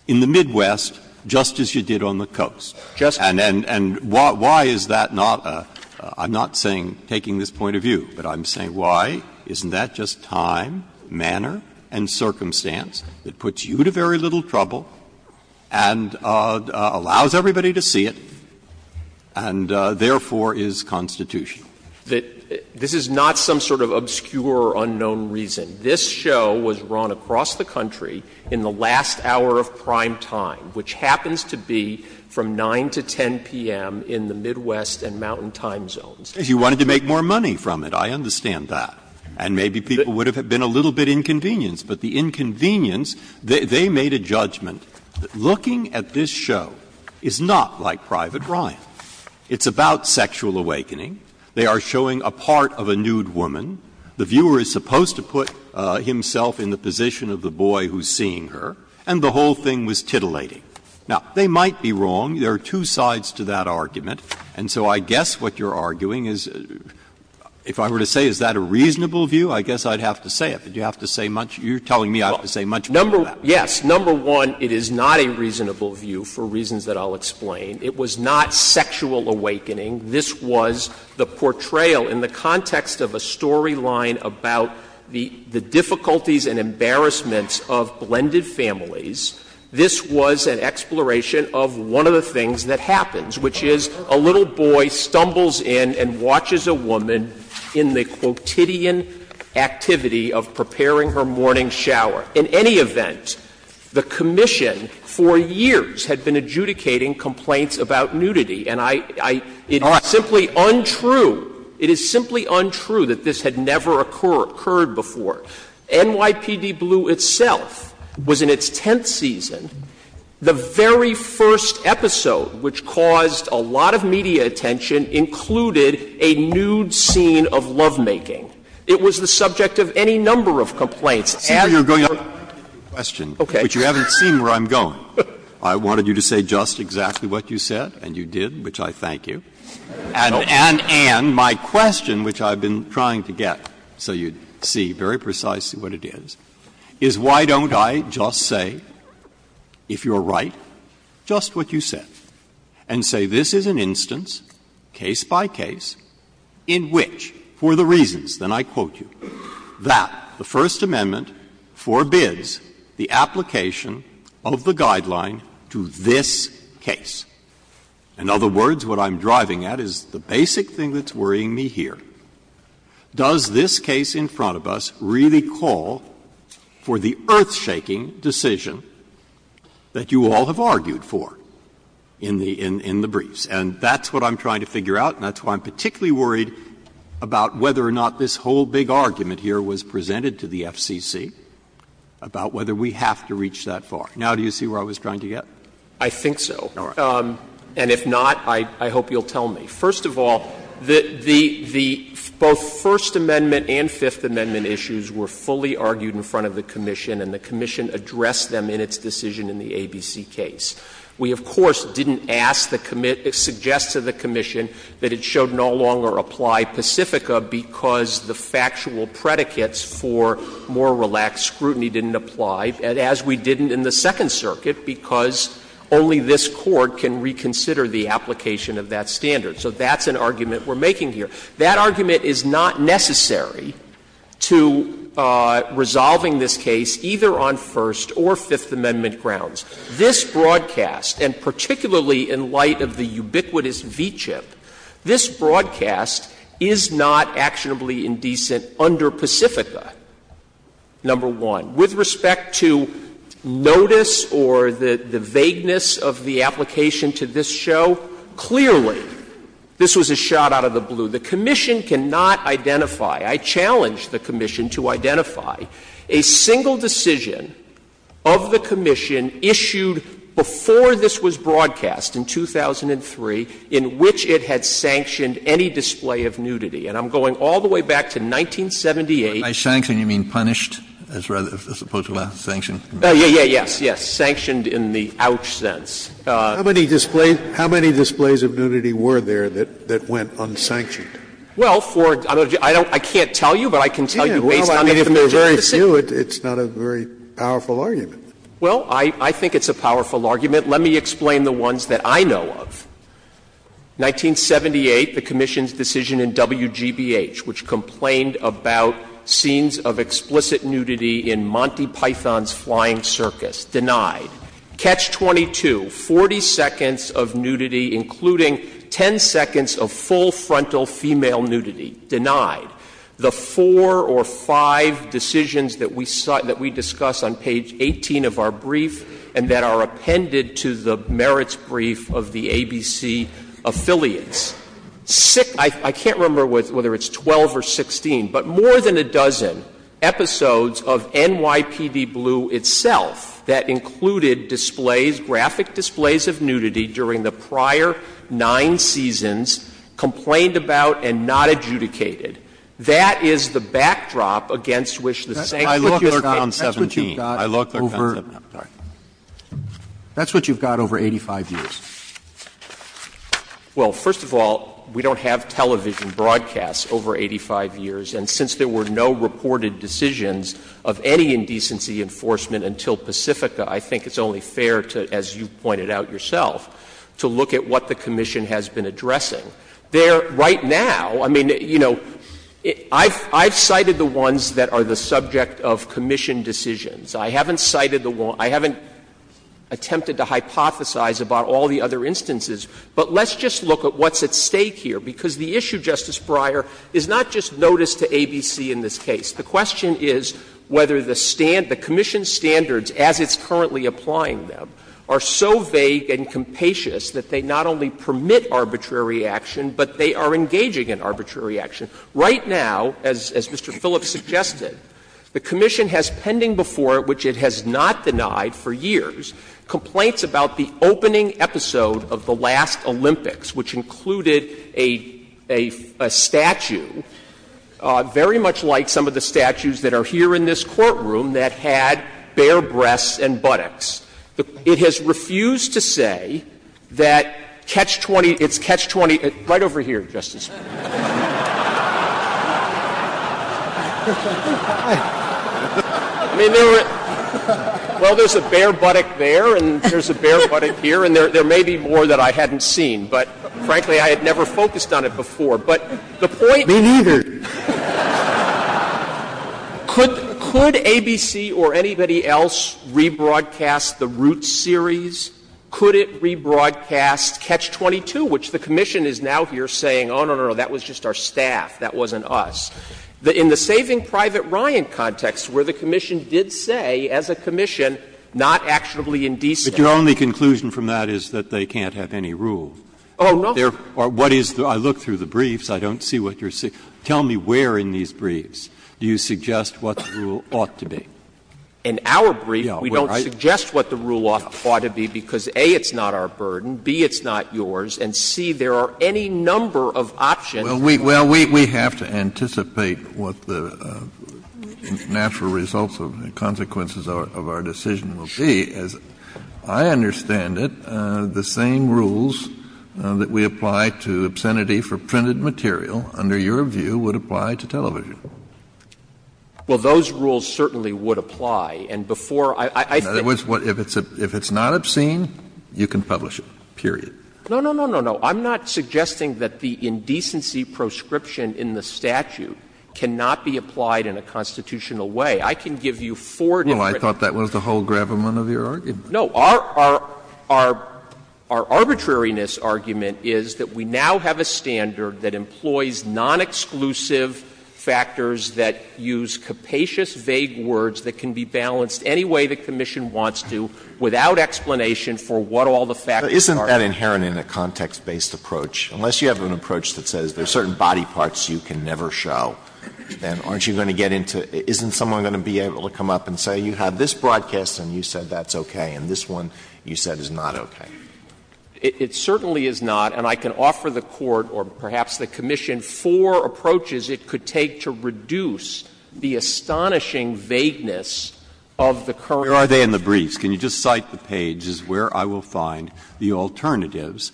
in the Midwest, just as you did on the coast. And why is that not a — I'm not saying — taking this point of view. But I'm saying why isn't that just time, manner, and circumstance that puts you to very little trouble and allows everybody to see it, and therefore is constitutional? This is not some sort of obscure, unknown reason. This show was run across the country in the last hour of prime time, which happens to be from 9 to 10 p.m. in the Midwest and mountain time zones. If you wanted to make more money from it, I understand that. And maybe people would have been a little bit inconvenienced. But the inconvenience, they made a judgment that looking at this show is not like Private Ryan. It's about sexual awakening. They are showing a part of a nude woman. The viewer is supposed to put himself in the position of the boy who's seeing her, and the whole thing was titillating. Now, they might be wrong. There are two sides to that argument. And so I guess what you're arguing is, if I were to say is that a reasonable view, I guess I'd have to say it. But you have to say much — you're telling me I have to say much more than that. Yes. Number one, it is not a reasonable view for reasons that I'll explain. It was not sexual awakening. This was the portrayal in the context of a storyline about the difficulties and embarrassments of blended families. This was an exploration of one of the things that happens, which is a little boy stumbles in and watches a woman in the quotidian activity of preparing her morning shower. In any event, the commission for years had been adjudicating complaints about nudity. And I — it is simply untrue. It is simply untrue that this had never occurred before. NYPD Blue itself was in its tenth season. The very first episode which caused a lot of media attention included a nude scene of lovemaking. It was the subject of any number of complaints. And your question, which you haven't seen where I'm going. I wanted you to say just exactly what you said, and you did, which I thank you. And my question, which I've been trying to get so you see very precisely what it is, is why don't I just say, if you're right, just what you said, and say this is an instance, case by case, in which, for the reasons, then I quote you, that the First Amendment forbids the application of the guideline to this case. In other words, what I'm driving at is the basic thing that's worrying me here. Does this case in front of us really call for the earth-shaking decision that you all have argued for in the briefs? And that's what I'm trying to figure out, and that's why I'm particularly worried about whether or not this whole big argument here was presented to the FCC about whether we have to reach that far. Now do you see where I was trying to get? I think so. And if not, I hope you'll tell me. First of all, the — both First Amendment and Fifth Amendment issues were fully argued in front of the commission, and the commission addressed them in its decision in the ABC case. We, of course, didn't ask the — suggest to the commission that it should no longer apply Pacifica because the factual predicates for more relaxed scrutiny didn't apply, as we didn't in the Second Circuit, because only this Court can reconsider the application of that standard. So that's an argument we're making here. That argument is not necessary to resolving this case either on First or Fifth Amendment grounds. This broadcast, and particularly in light of the ubiquitous V-CHIP, this broadcast is not actionably indecent under Pacifica, number one. With respect to notice or the vagueness of the application to this show, clearly this was a shot out of the blue. The commission cannot identify, I challenge the commission to identify, a single decision of the commission issued before this was broadcast in 2003 in which it had sanctioned any display of nudity. And I'm going all the way back to 1978. Kennedy By sanctioned, you mean punished, as opposed to sanctioned? Waxman Yes, yes, yes. Sanctioned in the ouch sense. Scalia How many displays of nudity were there that went unsanctioned? Waxman Well, for — I can't tell you, but I can tell you based on the familiar justice system. Scalia Well, I mean, if there are very few, it's not a very powerful argument. Waxman Well, I think it's a powerful argument. Let me explain the ones that I know of. 1978, the commission's decision in WGBH, which complained about scenes of explicit nudity in Monty Python's Flying Circus, denied. Catch-22, 40 seconds of nudity, including 10 seconds of full frontal female nudity, denied. The four or five decisions that we saw — that we discuss on page 18 of our brief and that are appended to the merits brief of the ABC affiliates, six — I can't remember whether it's 12 or 16, but more than a dozen episodes of NYPD Blue itself that included displays, graphic displays of nudity during the prior nine seasons, complained about and not adjudicated. That is the backdrop against which the sanctions were taken. Roberts That's what you've got. Roberts I look at 17. Roberts That's what you've got over 85 years. Waxman Well, first of all, we don't have television broadcasts over 85 years, and since there were no reported decisions of any indecency enforcement until Pacifica, I think it's only fair to, as you pointed out yourself, to look at what the commission has been addressing. There right now, I mean, you know, I've cited the ones that are the subject of commission decisions. I haven't cited the one — I haven't attempted to hypothesize about all the other instances. But let's just look at what's at stake here, because the issue, Justice Breyer, is not just notice to ABC in this case. The question is whether the commission standards, as it's currently applying them, are so vague and compassionate that they not only permit arbitrary action, but they are engaging in arbitrary action. Right now, as Mr. Phillips suggested, the commission has pending before it, which it has not denied for years, complaints about the opening episode of the last Olympics, which included a statue very much like some of the statues that are here in this courtroom that had bare breasts and buttocks. It has refused to say that Catch-20 — it's Catch-20 — right over here, Justice Breyer. I mean, there were — well, there's a bare buttock there, and there's a bare buttock here, and there may be more that I hadn't seen. But, frankly, I had never focused on it before. But the point — Me neither. Could ABC or anybody else rebroadcast the Roots series? Could it rebroadcast Catch-22, which the commission is now here saying, oh, no, no, that was just our staff, that wasn't us? In the Saving Private Ryan context, where the commission did say, as a commission, not actionably indecent. But your only conclusion from that is that they can't have any rule. Oh, no. What is the — I looked through the briefs. I don't see what you're — tell me where in these briefs do you suggest what the rule ought to be. In our brief, we don't suggest what the rule ought to be because, A, it's not our Well, we — well, we have to anticipate what the natural results of the consequences of our decision will be. As I understand it, the same rules that we apply to obscenity for printed material, under your view, would apply to television. Well, those rules certainly would apply. And before I say — In other words, if it's not obscene, you can publish it, period. No, no, no, no, no. I'm not suggesting that the indecency proscription in the statute cannot be applied in a constitutional way. I can give you four different— Well, I thought that was the whole gravamen of your argument. No. Our — our arbitrariness argument is that we now have a standard that employs non-exclusive factors that use capacious, vague words that can be balanced any way the commission wants to without explanation for what all the factors are. Isn't that inherent in a context-based approach? Unless you have an approach that says there's certain body parts you can never show, then aren't you going to get into — isn't someone going to be able to come up and say you have this broadcast and you said that's okay, and this one you said is not okay? It certainly is not, and I can offer the Court, or perhaps the commission, four approaches it could take to reduce the astonishing vagueness of the current— Where are they in the briefs? Can you just cite the pages where I will find the alternatives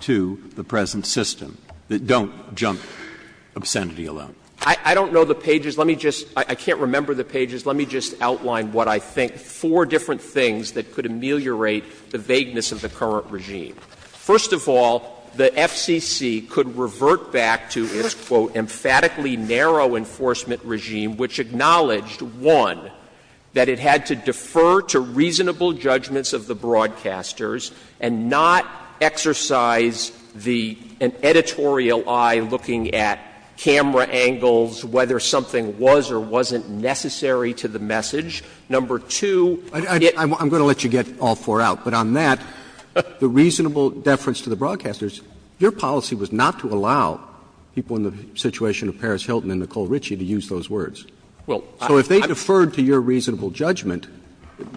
to the present system that don't jump obscenity alone? I don't know the pages. Let me just — I can't remember the pages. Let me just outline what I think, four different things that could ameliorate the vagueness of the current regime. The first is the emphatically narrow enforcement regime which acknowledged, one, that it had to defer to reasonable judgments of the broadcasters and not exercise the — an editorial eye looking at camera angles, whether something was or wasn't necessary to the message. Number two, it— Roberts I'm going to let you get all four out, but on that, the reasonable deference to the broadcasters, your policy was not to allow people in the situation of Paris Hilton and Nicole Ritchie to use those words. So if they deferred to your reasonable judgment,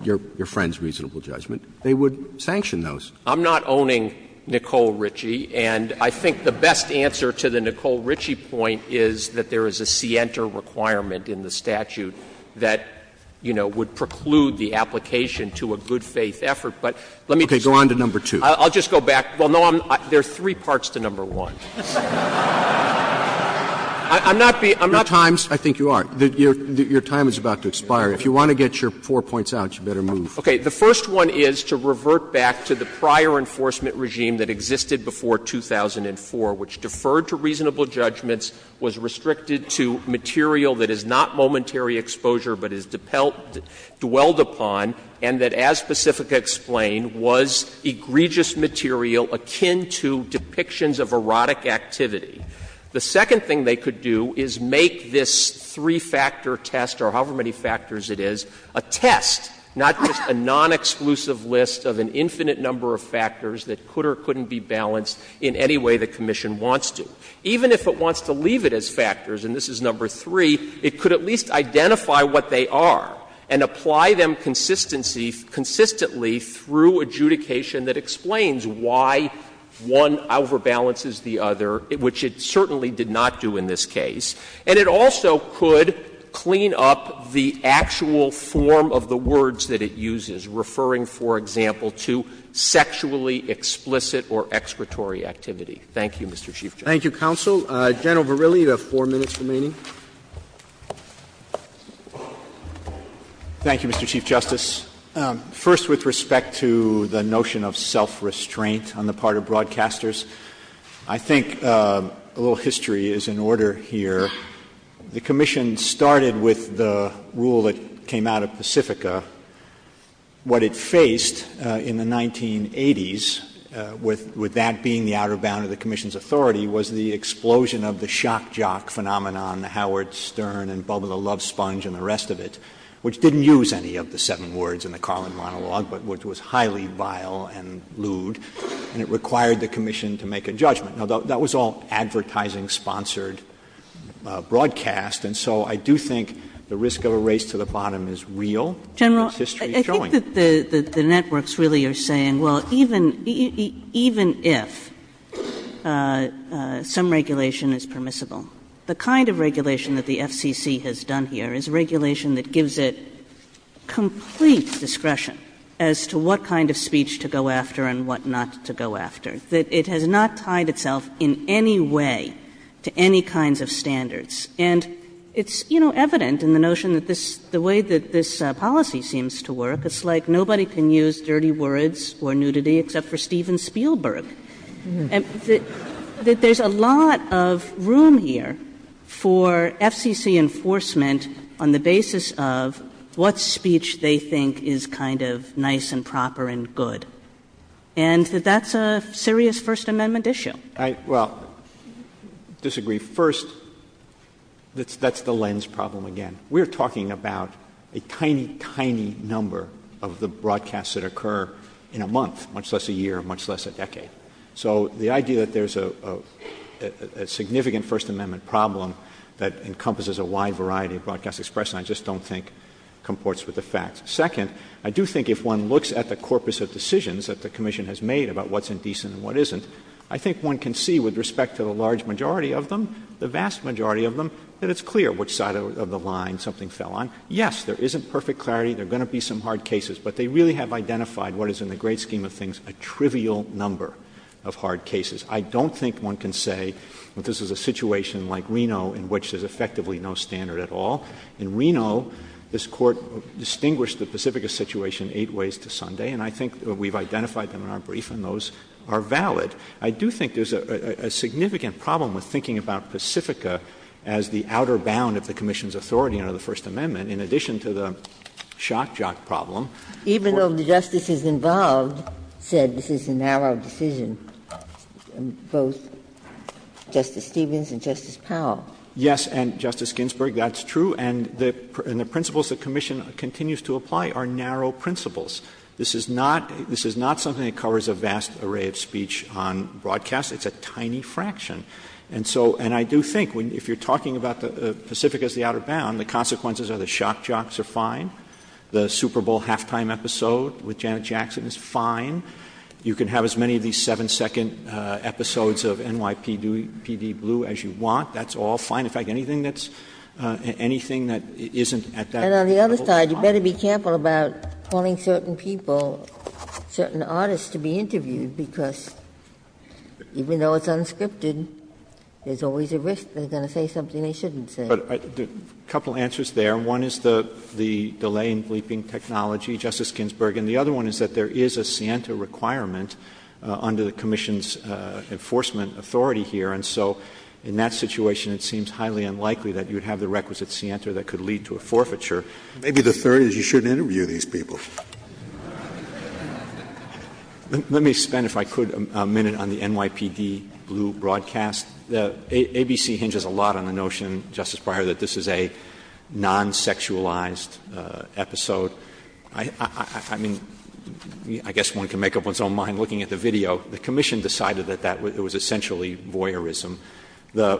your friend's reasonable judgment, they would sanction those. I'm not owning Nicole Ritchie, and I think the best answer to the Nicole Ritchie point is that there is a scienter requirement in the statute that, you know, would preclude the application to a good faith effort. But let me just— Okay. Go on to number two. I'll just go back. Well, no, I'm — there are three parts to number one. I'm not being — I'm not— Your time's — I think you are — your time is about to expire. If you want to get your four points out, you better move. Okay. The first one is to revert back to the prior enforcement regime that existed before 2004, which deferred to reasonable judgments, was restricted to material that is not momentary exposure but is dwelled upon, and that, as Pacifica explained, was egregiously material akin to depictions of erotic activity. The second thing they could do is make this three-factor test, or however many factors it is, a test, not just a non-exclusive list of an infinite number of factors that could or couldn't be balanced in any way the commission wants to. Even if it wants to leave it as factors, and this is number three, it could at least identify what they are and apply them consistency — consistently through adjudication that explains why one overbalances the other, which it certainly did not do in this case. And it also could clean up the actual form of the words that it uses, referring, for example, to sexually explicit or expiratory activity. Thank you, Mr. Chief Justice. Thank you, counsel. General Verrilli, you have four minutes remaining. Thank you, Mr. Chief Justice. First, with respect to the notion of self-restraint on the part of broadcasters, I think a little history is in order here. The commission started with the rule that came out of Pacifica. What it faced in the 1980s, with that being the outer bound of the commission's authority, was the explosion of the shock jock phenomenon, the Howard Stern and Bubba Love Sponge and the rest of it, which didn't use any of the seven words in the Carlin monologue, but which was highly vile and lewd, and it required the commission to make a judgment. Now, that was all advertising-sponsored broadcast, and so I do think the risk of a race to the bottom is real. It's history showing. General, I think that the networks really are saying, well, even if some regulation is permissible, the kind of regulation that the FCC has done here is regulation that gives it complete discretion as to what kind of speech to go after and what not to go after, that it has not tied itself in any way to any kinds of standards. And it's, you know, evident in the notion that the way that this policy seems to work, it's like nobody can use dirty words or nudity except for Steven Spielberg. And that there's a lot of room here for FCC enforcement on the basis of what speech they think is kind of nice and proper and good, and that that's a serious First Amendment issue. All right. Well, I disagree. First, that's the lens problem again. We're talking about a tiny, tiny number of the broadcasts that occur in a month, much less a year, much less a decade. So the idea that there's a significant First Amendment problem that encompasses a wide variety of broadcast expression, I just don't think comports with the facts. Second, I do think if one looks at the corpus of decisions that the Commission has made about what's indecent and what isn't, I think one can see with respect to the large majority of them, the vast majority of them, that it's clear which side of the line something fell on. Yes, there isn't perfect clarity. There are going to be some hard cases. But they really have identified what is, in the great scheme of things, a trivial number of hard cases. I don't think one can say that this is a situation like Reno in which there's effectively no standard at all. In Reno, this Court distinguished the Pacifica situation eight ways to Sunday, and I think we've identified them in our brief, and those are valid. I do think there's a significant problem with thinking about Pacifica as the outer bound of the Commission's authority under the First Amendment, in addition to the shock jock problem. Even though the justices involved said this is a narrow decision, both Justice Stevens and Justice Powell. Yes, and, Justice Ginsburg, that's true. And the principles the Commission continues to apply are narrow principles. This is not something that covers a vast array of speech on broadcast. It's a tiny fraction. And so, and I do think if you're talking about Pacifica as the outer bound, the consequences of the shock jocks are fine. The Super Bowl halftime episode with Janet Jackson is fine. You can have as many of these seven-second episodes of NYPD Blue as you want. That's all fine. In fact, anything that's, anything that isn't at that level is fine. And on the other side, you better be careful about calling certain people, certain artists to be interviewed, because even though it's unscripted, there's always a risk they're going to say something they shouldn't say. But a couple answers there. One is the delay in bleeping technology, Justice Ginsburg. And the other one is that there is a scienter requirement under the Commission's enforcement authority here. And so, in that situation, it seems highly unlikely that you would have the requisite scienter that could lead to a forfeiture. Maybe the third is you shouldn't interview these people. Let me spend, if I could, a minute on the NYPD Blue broadcast. The ABC hinges a lot on the notion, Justice Breyer, that this is a non-sexualized episode. I mean, I guess one can make up one's own mind looking at the video. The Commission decided that that was essentially voyeurism. The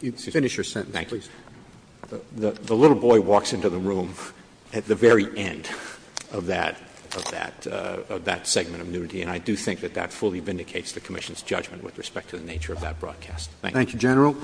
little boy walks into the room at the very end of that segment of nudity, and I do think that that fully vindicates the Commission's judgment with respect to the nature of that broadcast. Thank you. Thank you, General.